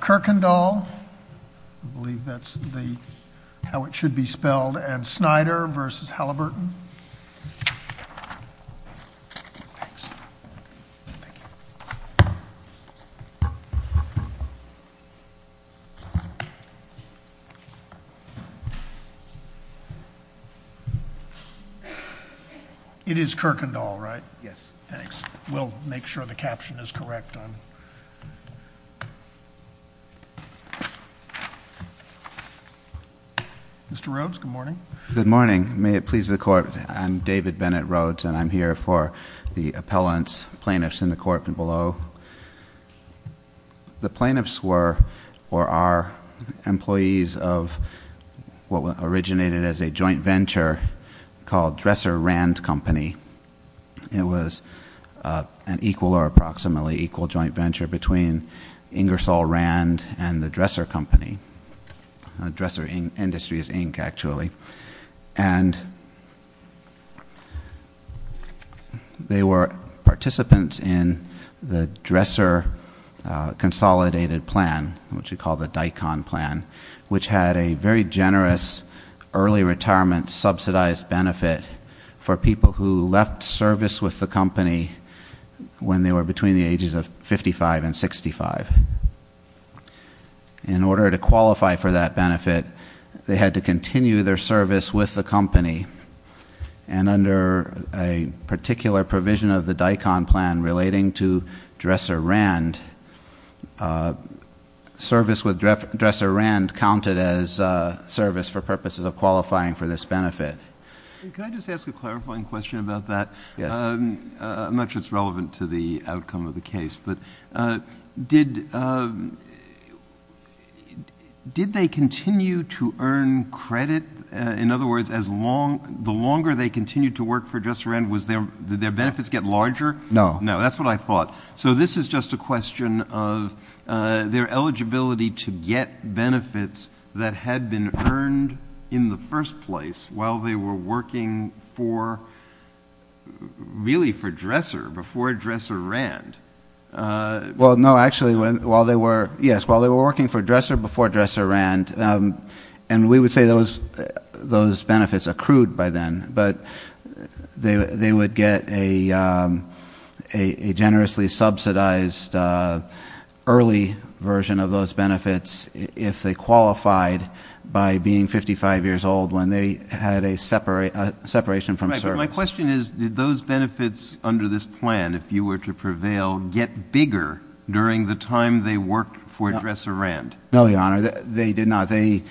Kirkendall, I believe that's how it should be spelled, and Snyder v. Halliburton. It is Kirkendall, right? Yes. Thanks. We'll make sure the caption is correct. Mr. Rhodes, good morning. Good morning. May it please the court. I'm David Bennett Rhodes, and I'm here for the appellants, plaintiffs in the court below. The plaintiffs were, or are, employees of what originated as a joint venture called Dresser Rand Company. It was an equal or approximately equal joint venture between Ingersoll Rand and the Dresser Company, Dresser Industries, Inc., actually. And they were participants in the Dresser Consolidated Plan, which we call the DICON plan, which had a very generous early retirement subsidized benefit for people who left service with the company when they were between the ages of 55 and 65. In order to qualify for that benefit, they had to continue their service with the company, and under a particular provision of the DICON plan relating to Dresser Rand, service with Dresser Rand counted as service for purposes of qualifying for this benefit. Can I just ask a clarifying question about that? Yes. I'm not sure it's relevant to the outcome of the case, but did they continue to earn credit? In other words, the longer they continued to work for Dresser Rand, did their benefits get larger? No. No. That's what I thought. So this is just a question of their eligibility to get benefits that had been earned in the first place while they were working for, really for Dresser, before Dresser Rand. Well, no, actually, while they were, yes, while they were working for Dresser before Dresser Rand, and we would say those benefits accrued by then, but they would get a generously subsidized early version of those benefits if they qualified by being 55 years old when they had a separation from service. My question is, did those benefits under this plan, if you were to prevail, get bigger during the time they worked for Dresser Rand? No, Your Honor, they did not. They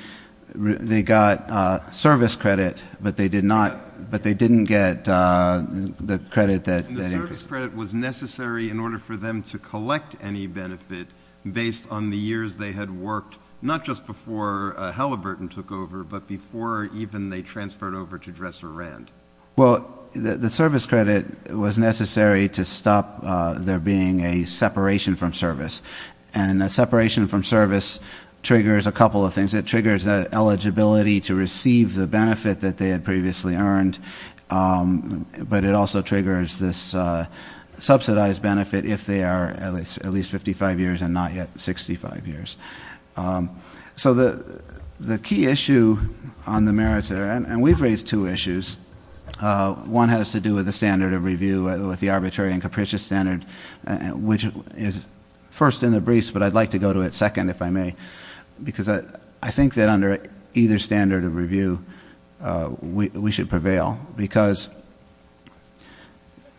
got service credit, but they did not, but they didn't get the credit that they needed in order for them to collect any benefit based on the years they had worked, not just before Halliburton took over, but before even they transferred over to Dresser Rand. Well, the service credit was necessary to stop there being a separation from service, and a separation from service triggers a couple of things. It triggers the eligibility to receive the benefit that they had previously earned, but it also triggers this subsidized benefit if they are at least 55 years and not yet 65 years. So the key issue on the merits there, and we've raised two issues. One has to do with the standard of review, with the arbitrary and capricious standard, which is first in the briefs, but I'd like to go to it second, if I may, because I think that under either standard of review, we should prevail. Because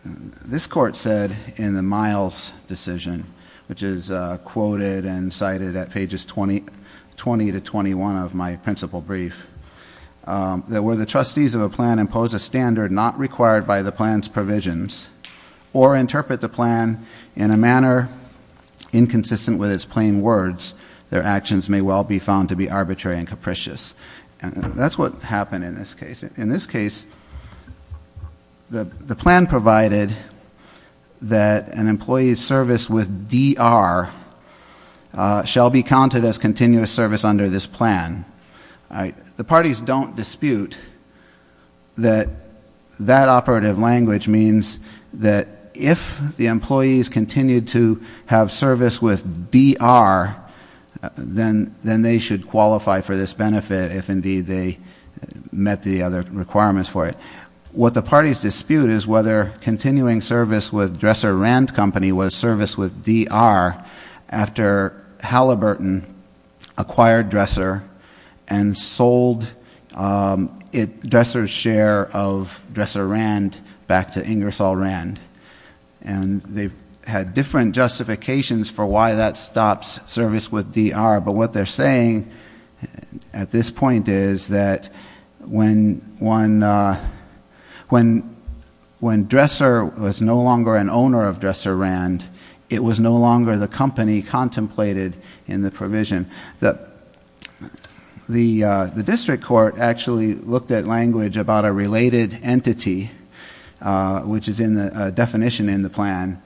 this court said in the Miles decision, which is quoted and cited at pages 20 to 21 of my principal brief, that where the trustees of a plan impose a standard not required by the plan's provisions or interpret the plan in a manner inconsistent with its plain words, their actions may well be found to be arbitrary and capricious. And that's what happened in this case. In this case, the plan provided that an employee's service with DR shall be counted as continuous service under this plan. The parties don't dispute that that operative language means that if the employees continue to have service with DR, then they should qualify for this benefit if indeed they met the other requirements for it. What the parties dispute is whether continuing service with Dresser Rand Company was service with DR after Halliburton acquired Dresser and Hall Rand, and they've had different justifications for why that stops service with DR. But what they're saying at this point is that when Dresser was no longer an owner of Dresser Rand, it was no longer the company contemplated in the provision. The district court actually looked at language about a related entity, which is in the definition in the plan,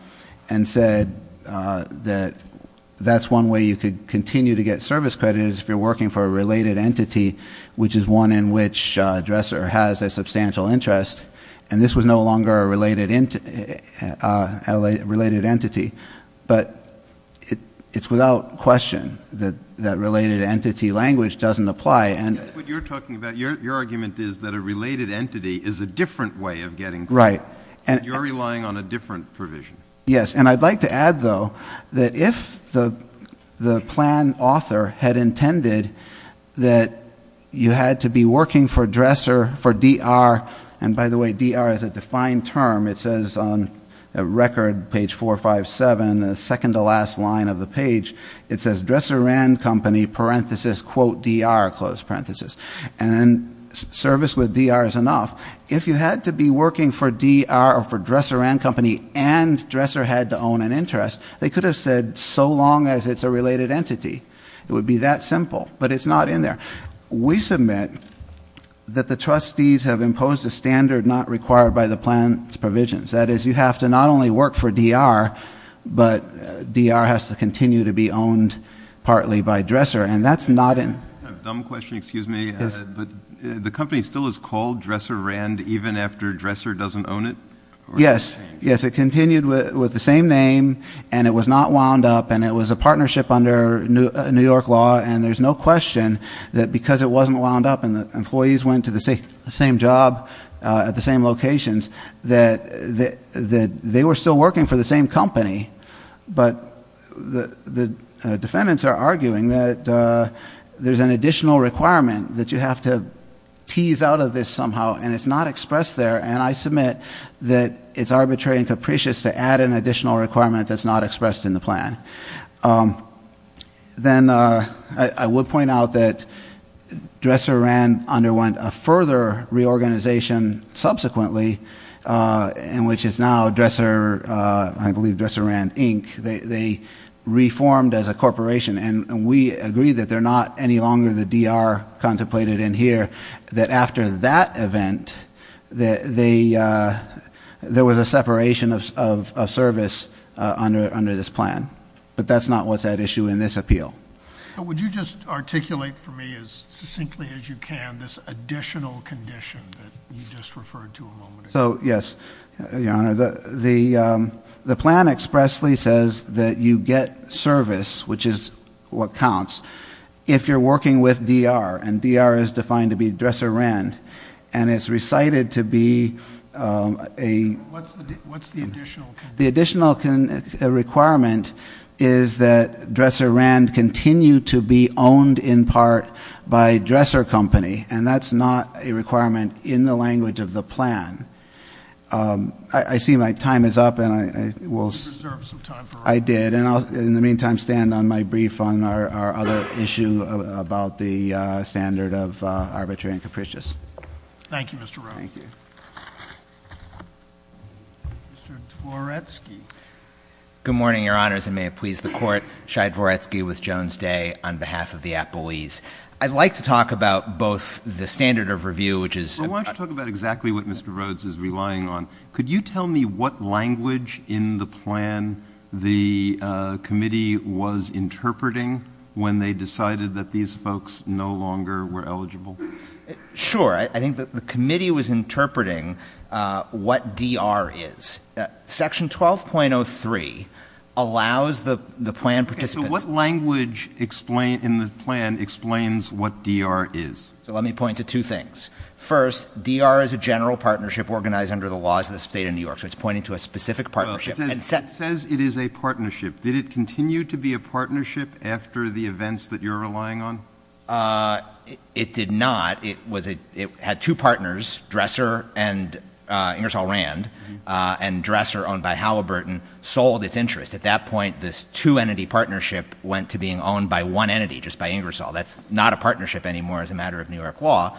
and said that that's one way you could continue to get service credit is if you're working for a related entity, which is one in which Dresser has a substantial interest, and this was no longer a related entity. But it's without question that related entity language doesn't apply. What you're talking about, your argument is that a related entity is a different way of getting credit. You're relying on a different provision. Yes, and I'd like to add though, that if the plan author had intended that you had to be working for Dresser, for DR, and by the way, DR is a defined term. It says on record, page 457, the second to last line of the page, it says Dresser Rand Company, parenthesis, quote DR, close parenthesis. And service with DR is enough. If you had to be working for DR, or for Dresser Rand Company, and Dresser had to own an interest, they could have said so long as it's a related entity, it would be that simple, but it's not in there. We submit that the trustees have imposed a standard not required by the plan's provisions. That is, you have to not only work for DR, but DR has to continue to be owned partly by Dresser. And that's not in. I have a dumb question, excuse me, but the company still is called Dresser Rand, even after Dresser doesn't own it? Yes, yes, it continued with the same name, and it was not wound up, and it was a partnership under New York law. And there's no question that because it wasn't wound up, and the employees went to the same job at the same locations, that they were still working for the same company. But the defendants are arguing that there's an additional requirement that you have to tease out of this somehow, and it's not expressed there. And I submit that it's arbitrary and capricious to add an additional requirement that's not expressed in the plan. Then I would point out that Dresser Rand underwent a further reorganization, subsequently, in which it's now Dresser, I believe Dresser Rand Inc. They reformed as a corporation, and we agree that they're not any longer the DR contemplated in here. That after that event, there was a separation of service under this plan. But that's not what's at issue in this appeal. Would you just articulate for me as succinctly as you can this additional condition that you just referred to a moment ago? So yes, your honor, the plan expressly says that you get service, which is what counts, if you're working with DR, and DR is defined to be Dresser Rand. And it's recited to be a- What's the additional condition? The additional requirement is that Dresser Rand continue to be owned in part by Dresser Company. And that's not a requirement in the language of the plan. I see my time is up and I will- You deserve some time for- I did, and in the meantime, I'll stand on my brief on our other issue about the standard of arbitrary and capricious. Thank you, Mr. Rowe. Thank you. Mr. Dvoretsky. Good morning, your honors, and may it please the court. Shai Dvoretsky with Jones Day on behalf of the Appleese. I'd like to talk about both the standard of review, which is- Well, why don't you talk about exactly what Mr. Rhodes is relying on. Could you tell me what language in the plan the committee was interpreting when they decided that these folks no longer were eligible? Sure, I think that the committee was interpreting what DR is. Section 12.03 allows the plan participants- So what language in the plan explains what DR is? So let me point to two things. First, DR is a general partnership organized under the laws of the state of New York. So it's pointing to a specific partnership. It says it is a partnership. Did it continue to be a partnership after the events that you're relying on? It did not. It had two partners, Dresser and Ingersoll Rand, and Dresser, owned by Halliburton, sold its interest. At that point, this two-entity partnership went to being owned by one entity, just by Ingersoll. That's not a partnership anymore as a matter of New York law.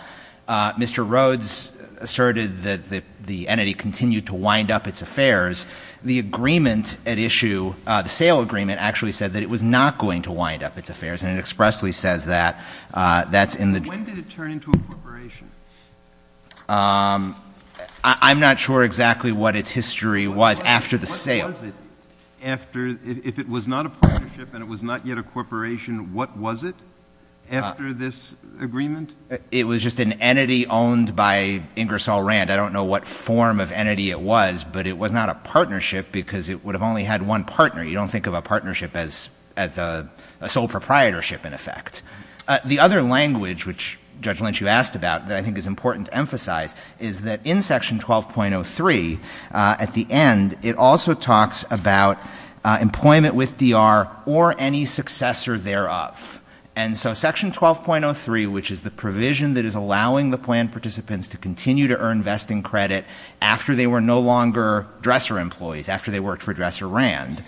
Mr. Rhodes asserted that the entity continued to wind up its affairs. The agreement at issue, the sale agreement, actually said that it was not going to wind up its affairs. And it expressly says that. That's in the- When did it turn into a corporation? I'm not sure exactly what its history was after the sale. What was it after, if it was not a partnership and it was not yet a corporation, what was it after this agreement? It was just an entity owned by Ingersoll Rand. I don't know what form of entity it was, but it was not a partnership because it would have only had one partner. You don't think of a partnership as a sole proprietorship, in effect. The other language, which Judge Lynch, you asked about, that I think is important to emphasize is that in section 12.03, at the end, it also talks about employment with DR or any successor thereof. And so section 12.03, which is the provision that is allowing the plan participants to continue to earn vesting credit after they were no longer DRESER employees, after they worked for DRESER Rand,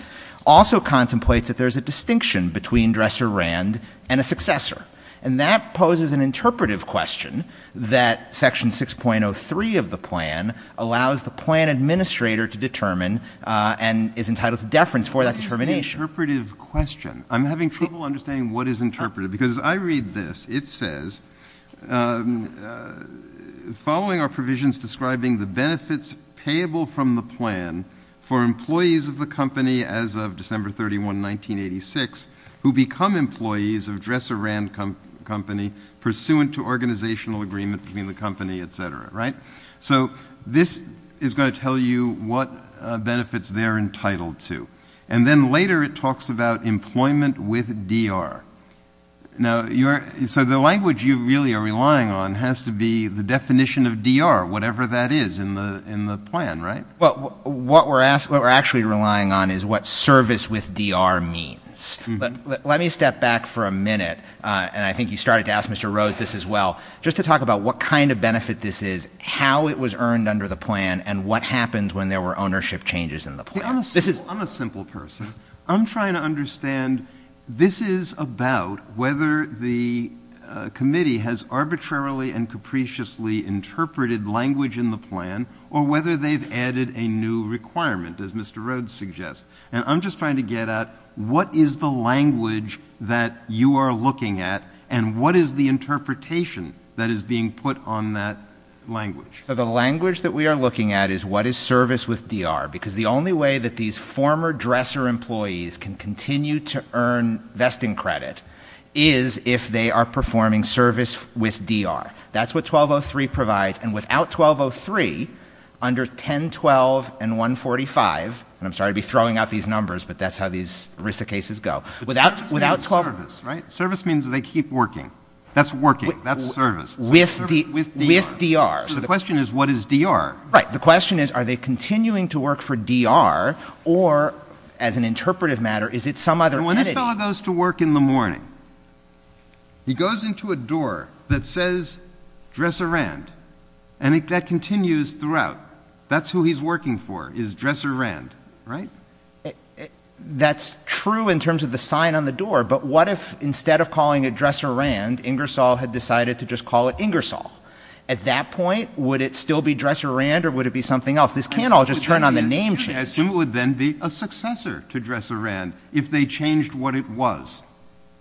also contemplates that there's a distinction between DRESER Rand and a successor. And that poses an interpretive question that section 6.03 of the plan allows the plan administrator to determine and is entitled to deference for that determination. It's an interpretive question. I'm having trouble understanding what is interpretive because I read this. It says, following our provisions describing the benefits payable from the plan for employees of the company as of December 31, 1986, who become employees of DRESER Rand company pursuant to organizational agreement between the company, etc., right? So, this is going to tell you what benefits they're entitled to. And then later it talks about employment with DR. Now, so the language you really are relying on has to be the definition of DR, whatever that is in the plan, right? Well, what we're actually relying on is what service with DR means. But let me step back for a minute, and I think you started to ask Mr. Rhodes this as well, just to talk about what kind of benefit this is, how it was earned under the plan, and what happened when there were ownership changes in the plan. I'm a simple person. I'm trying to understand, this is about whether the committee has arbitrarily and capriciously interpreted language in the plan, or whether they've added a new requirement, as Mr. Rhodes suggests. And I'm just trying to get at, what is the language that you are looking at, and what is the interpretation that is being put on that language? So, the language that we are looking at is, what is service with DR? Because the only way that these former dresser employees can continue to earn vesting credit is if they are performing service with DR. That's what 1203 provides, and without 1203, under 1012 and 145, and I'm sorry to be throwing out these numbers, but that's how these RISA cases go. Without- Service means service, right? Service means they keep working. That's working, that's service. With DR. With DR. So, the question is, what is DR? Right, the question is, are they continuing to work for DR, or, as an interpretive matter, is it some other entity? When this fellow goes to work in the morning, he goes into a door that says, Dresser Rand, and that continues throughout. That's who he's working for, is Dresser Rand, right? That's true in terms of the sign on the door, but what if, instead of calling it Dresser Rand, Ingersoll had decided to just call it Ingersoll? At that point, would it still be Dresser Rand, or would it be something else? This can't all just turn on the name change. I assume it would then be a successor to Dresser Rand, if they changed what it was.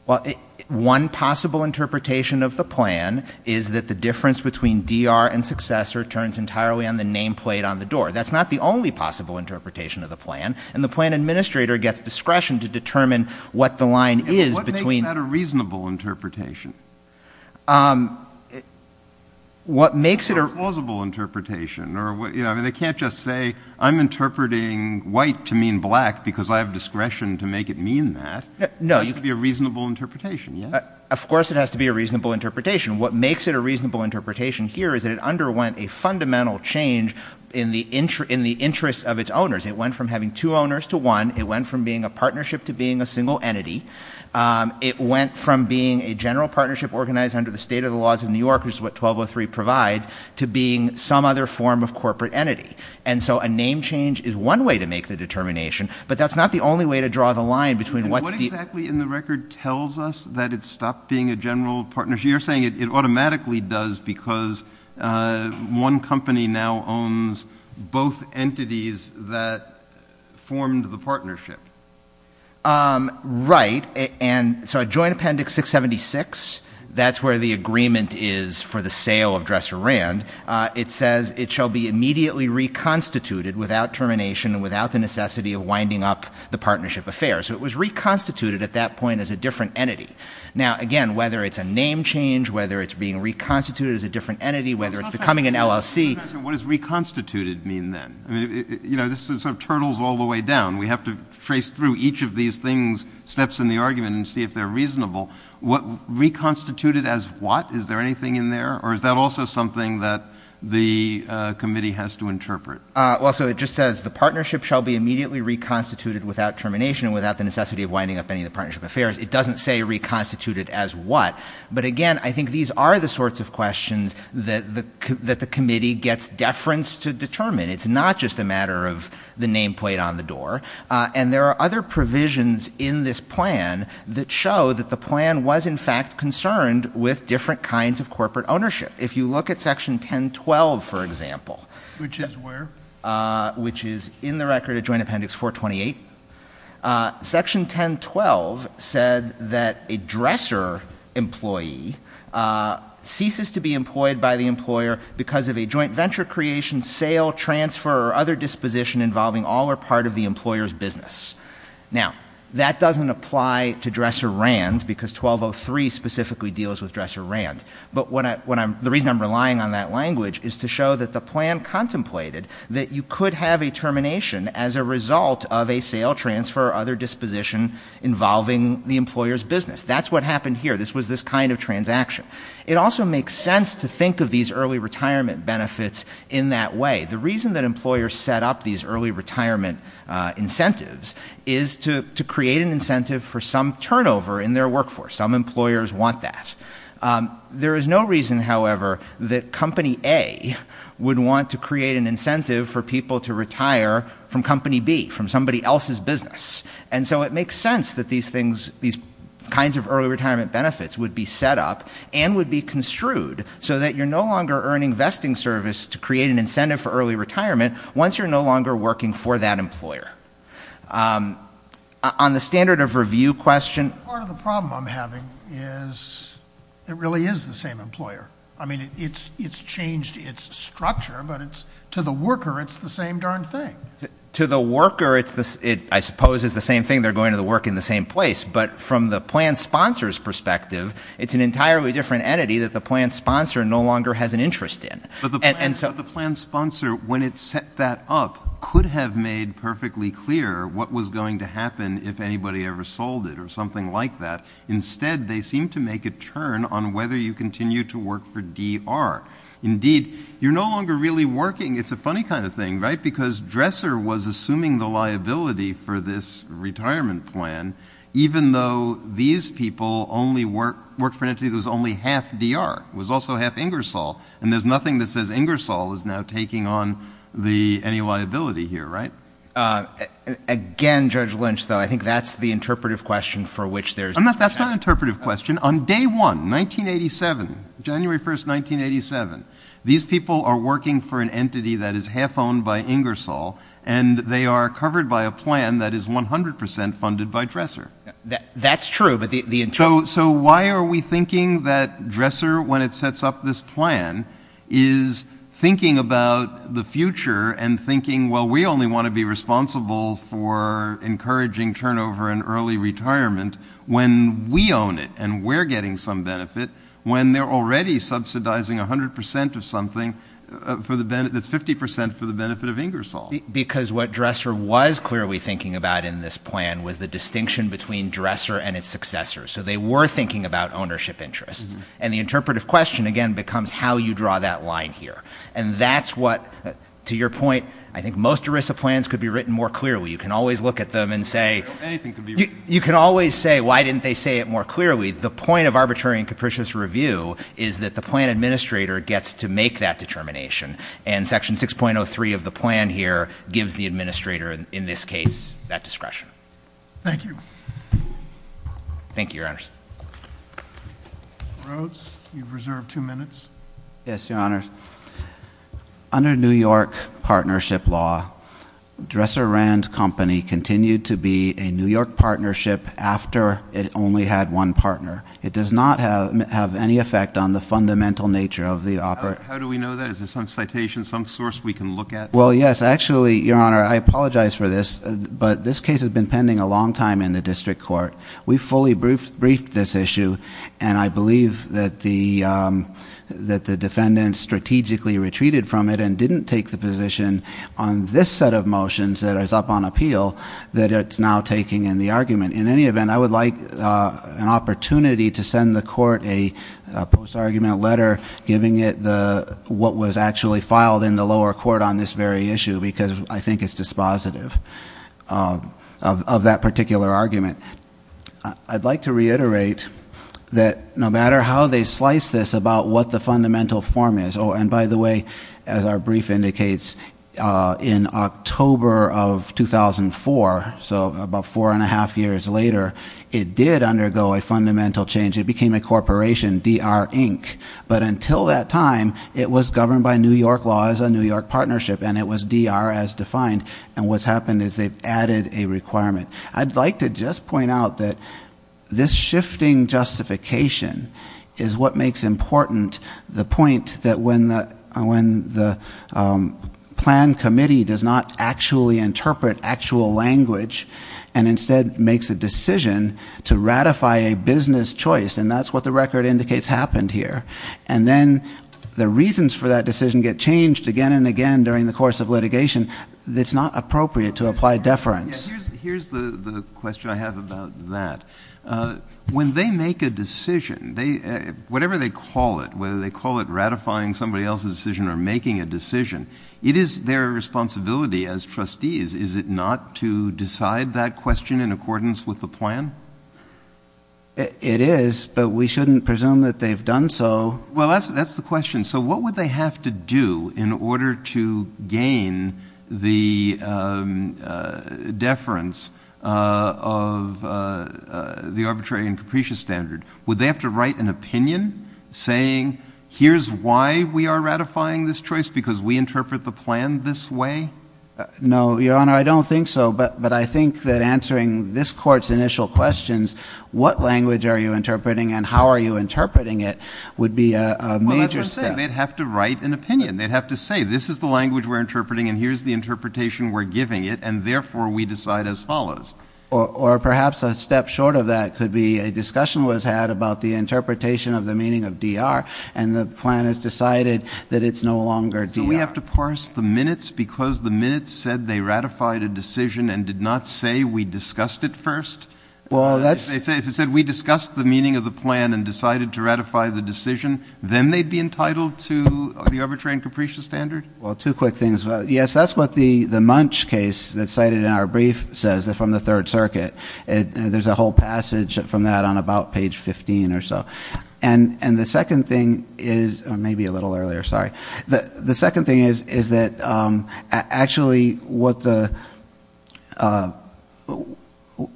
Well, one possible interpretation of the plan is that the difference between DR and successor turns entirely on the name plate on the door. That's not the only possible interpretation of the plan, and the plan administrator gets discretion to determine what the line is between- What makes that a reasonable interpretation? What makes it a- Or a plausible interpretation, or they can't just say, I'm interpreting white to mean black because I have discretion to make it mean that. No. It has to be a reasonable interpretation, yeah? Of course it has to be a reasonable interpretation. What makes it a reasonable interpretation here is that it underwent a fundamental change in the interests of its owners. It went from having two owners to one. It went from being a partnership to being a single entity. It went from being a general partnership organized under the state of the laws of New York, which is what 1203 provides, to being some other form of corporate entity. And so a name change is one way to make the determination, but that's not the only way to draw the line between what's the- What exactly in the record tells us that it stopped being a general partnership? You're saying it automatically does because one company now owns both entities that formed the partnership. Right, and so Joint Appendix 676, that's where the agreement is for the sale of Dresser Rand. It says it shall be immediately reconstituted without termination and without the necessity of winding up the partnership affair. So it was reconstituted at that point as a different entity. Now, again, whether it's a name change, whether it's being reconstituted as a different entity, whether it's becoming an LLC- What does reconstituted mean then? I mean, you know, this sort of turtles all the way down. We have to trace through each of these things, steps in the argument, and see if they're reasonable. What reconstituted as what? Is there anything in there? Or is that also something that the committee has to interpret? Well, so it just says the partnership shall be immediately reconstituted without termination and without the necessity of winding up any of the partnership affairs. It doesn't say reconstituted as what. But again, I think these are the sorts of questions that the committee gets deference to determine. It's not just a matter of the nameplate on the door. And there are other provisions in this plan that show that the plan was in fact concerned with different kinds of corporate ownership. If you look at section 1012, for example. Which is where? Which is in the record of Joint Appendix 428. Section 1012 said that a dresser employee ceases to be employed by the employer because of a joint venture creation, sale, transfer, or other disposition involving all or part of the employer's business. Now, that doesn't apply to dresser Rand, because 1203 specifically deals with dresser Rand. But the reason I'm relying on that language is to show that the plan contemplated that you could have a termination as a result of a sale, transfer, or other disposition involving the employer's business. That's what happened here. This was this kind of transaction. It also makes sense to think of these early retirement benefits in that way. The reason that employers set up these early retirement incentives is to create an incentive for some turnover in their workforce. Some employers want that. There is no reason, however, that company A would want to create an incentive for people to retire from company B, from somebody else's business. And so it makes sense that these things, these kinds of early retirement benefits would be set up and would be construed so that you're no longer earning vesting service to create an incentive for early retirement once you're no longer working for that employer. On the standard of review question- Part of the problem I'm having is it really is the same employer. I mean, it's changed its structure, but to the worker, it's the same darn thing. To the worker, I suppose it's the same thing, they're going to the work in the same place. But from the plan sponsor's perspective, it's an entirely different entity that the plan sponsor no longer has an interest in. And so- But the plan sponsor, when it set that up, could have made perfectly clear what was going to happen if anybody ever sold it or something like that. Instead, they seem to make a turn on whether you continue to work for DR. Indeed, you're no longer really working. It's a funny kind of thing, right? Because Dresser was assuming the liability for this retirement plan, even though these people worked for an entity that was only half DR, was also half Ingersoll. And there's nothing that says Ingersoll is now taking on any liability here, right? Again, Judge Lynch, though, I think that's the interpretive question for which there's- That's not an interpretive question. On day one, 1987, January 1st, 1987, these people are working for an entity that is half owned by Ingersoll, and they are covered by a plan that is 100% funded by Dresser. That's true, but the- So why are we thinking that Dresser, when it sets up this plan, is thinking about the future and thinking, well, we only want to be responsible for encouraging turnover and early retirement when we own it and we're getting some benefit, when they're already subsidizing 100% of something that's 50% for the benefit of Ingersoll? Because what Dresser was clearly thinking about in this plan was the distinction between Dresser and its successor. So they were thinking about ownership interests. And the interpretive question, again, becomes how you draw that line here. And that's what, to your point, I think most ERISA plans could be written more clearly. You can always look at them and say- Anything can be written. You can always say, why didn't they say it more clearly? The point of arbitrary and capricious review is that the plan administrator gets to make that determination. And section 6.03 of the plan here gives the administrator, in this case, that discretion. Thank you. Thank you, your honors. Rhodes, you've reserved two minutes. Yes, your honors. Under New York partnership law, Dresser Rand Company continued to be a New York partnership after it only had one partner. It does not have any effect on the fundamental nature of the- How do we know that? Is there some citation, some source we can look at? Well, yes. Actually, your honor, I apologize for this, but this case has been pending a long time in the district court. We fully briefed this issue, and I believe that the defendant strategically retreated from it and didn't take the position on this set of motions that is up on appeal. That it's now taking in the argument. In any event, I would like an opportunity to send the court a post-argument letter, giving it what was actually filed in the lower court on this very issue, because I think it's dispositive of that particular argument. I'd like to reiterate that no matter how they slice this about what the fundamental form is, and by the way, as our brief indicates, in October of 2004, so about four and a half years later, it did undergo a fundamental change. It became a corporation, DR Inc. But until that time, it was governed by New York laws, a New York partnership, and it was DR as defined. And what's happened is they've added a requirement. I'd like to just point out that this shifting justification is what makes important the point that when the plan committee does not actually interpret actual language. And instead makes a decision to ratify a business choice, and that's what the record indicates happened here. And then the reasons for that decision get changed again and again during the course of litigation. It's not appropriate to apply deference. Here's the question I have about that. When they make a decision, whatever they call it, whether they call it ratifying somebody else's decision or making a decision, it is their responsibility as trustees. Is it not to decide that question in accordance with the plan? It is, but we shouldn't presume that they've done so. Well, that's the question. So what would they have to do in order to gain the deference of the arbitrary and capricious standard? Would they have to write an opinion saying, here's why we are ratifying this choice, because we interpret the plan this way? No, your honor, I don't think so, but I think that answering this court's initial questions, what language are you interpreting and how are you interpreting it, would be a major step. They'd have to write an opinion. And they'd have to say, this is the language we're interpreting and here's the interpretation we're giving it, and therefore we decide as follows. Or perhaps a step short of that could be a discussion was had about the interpretation of the meaning of DR, and the plan has decided that it's no longer DR. Do we have to parse the minutes because the minutes said they ratified a decision and did not say we discussed it first? Well, that's- If it said we discussed the meaning of the plan and decided to ratify the decision, then they'd be entitled to the arbitrary and capricious standard? Well, two quick things. Yes, that's what the Munch case that's cited in our brief says, from the Third Circuit. There's a whole passage from that on about page 15 or so. And the second thing is, or maybe a little earlier, sorry. The second thing is that actually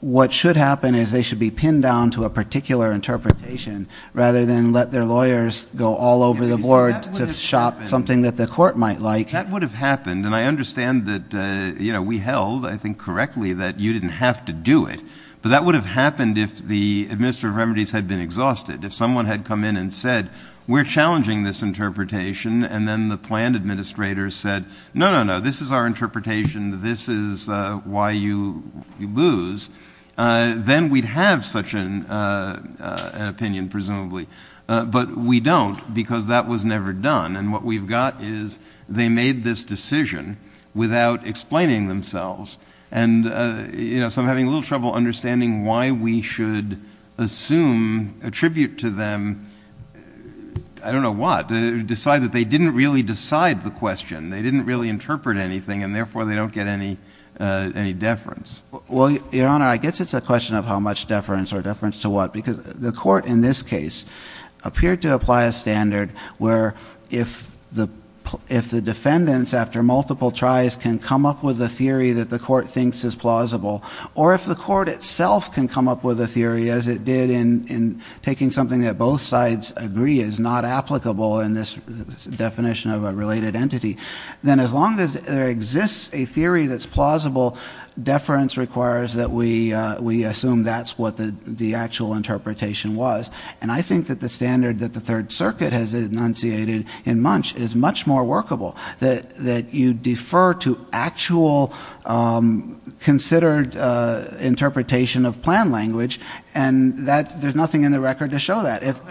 what should happen is they should be pinned down to a particular interpretation, rather than let their lawyers go all over the board to shop something that the court might like. That would have happened, and I understand that we held, I think correctly, that you didn't have to do it. But that would have happened if the administrator of remedies had been exhausted. If someone had come in and said, we're challenging this interpretation, and then the plan administrator said, no, no, no, this is our interpretation. This is why you lose, then we'd have such an opinion, presumably. But we don't, because that was never done. And what we've got is they made this decision without explaining themselves. And so I'm having a little trouble understanding why we should assume, attribute to them, I don't know what, decide that they didn't really decide the question. They didn't really interpret anything, and therefore they don't get any deference. Well, your honor, I guess it's a question of how much deference or deference to what. Because the court in this case appeared to apply a standard where if the defendants, after multiple tries, can come up with a theory that the court thinks is plausible. Or if the court itself can come up with a theory, as it did in taking something that both sides agree is not applicable in this definition of a related entity. Then as long as there exists a theory that's plausible, deference requires that we assume that's what the actual interpretation was. And I think that the standard that the Third Circuit has enunciated in Munch is much more workable. That you defer to actual considered interpretation of plan language, and there's nothing in the record to show that. If-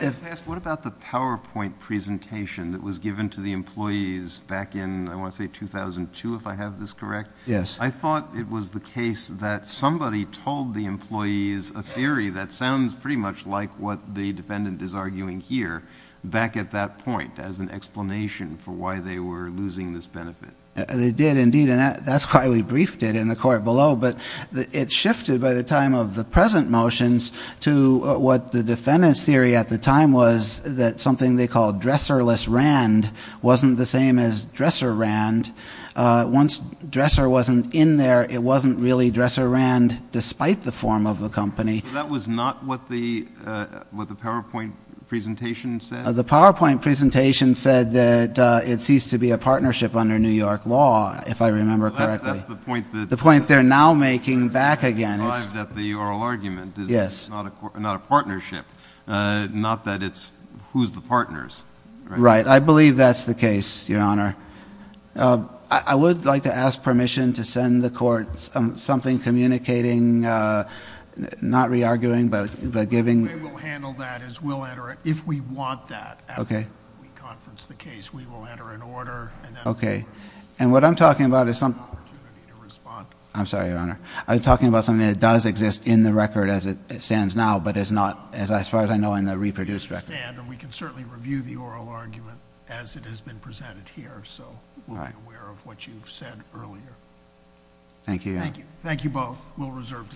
What about the PowerPoint presentation that was given to the employees back in, I want to say 2002, if I have this correct? Yes. I thought it was the case that somebody told the employees a theory that sounds pretty much like what the defendant is arguing here. Back at that point, as an explanation for why they were losing this benefit. They did indeed, and that's why we briefed it in the court below. But it shifted by the time of the present motions to what the defendant's theory at the time was, that something they called dresserless RAND wasn't the same as dresser RAND. Once dresser wasn't in there, it wasn't really dresser RAND, despite the form of the company. That was not what the PowerPoint presentation said? The PowerPoint presentation said that it ceased to be a partnership under New York law, if I remember correctly. That's the point that- I'm making back again. It's derived at the oral argument, is that it's not a partnership, not that it's who's the partners. Right, I believe that's the case, your honor. I would like to ask permission to send the court something communicating, not re-arguing, but giving- We will handle that as we'll enter it. If we want that, after we conference the case, we will enter an order, and then- Okay. And what I'm talking about is some- Opportunity to respond. I'm sorry, your honor. I'm talking about something that does exist in the record as it stands now, but as far as I know, in the reproduced record. I understand, and we can certainly review the oral argument as it has been presented here, so we'll be aware of what you've said earlier. Thank you, your honor. Thank you both. We'll reserve decision.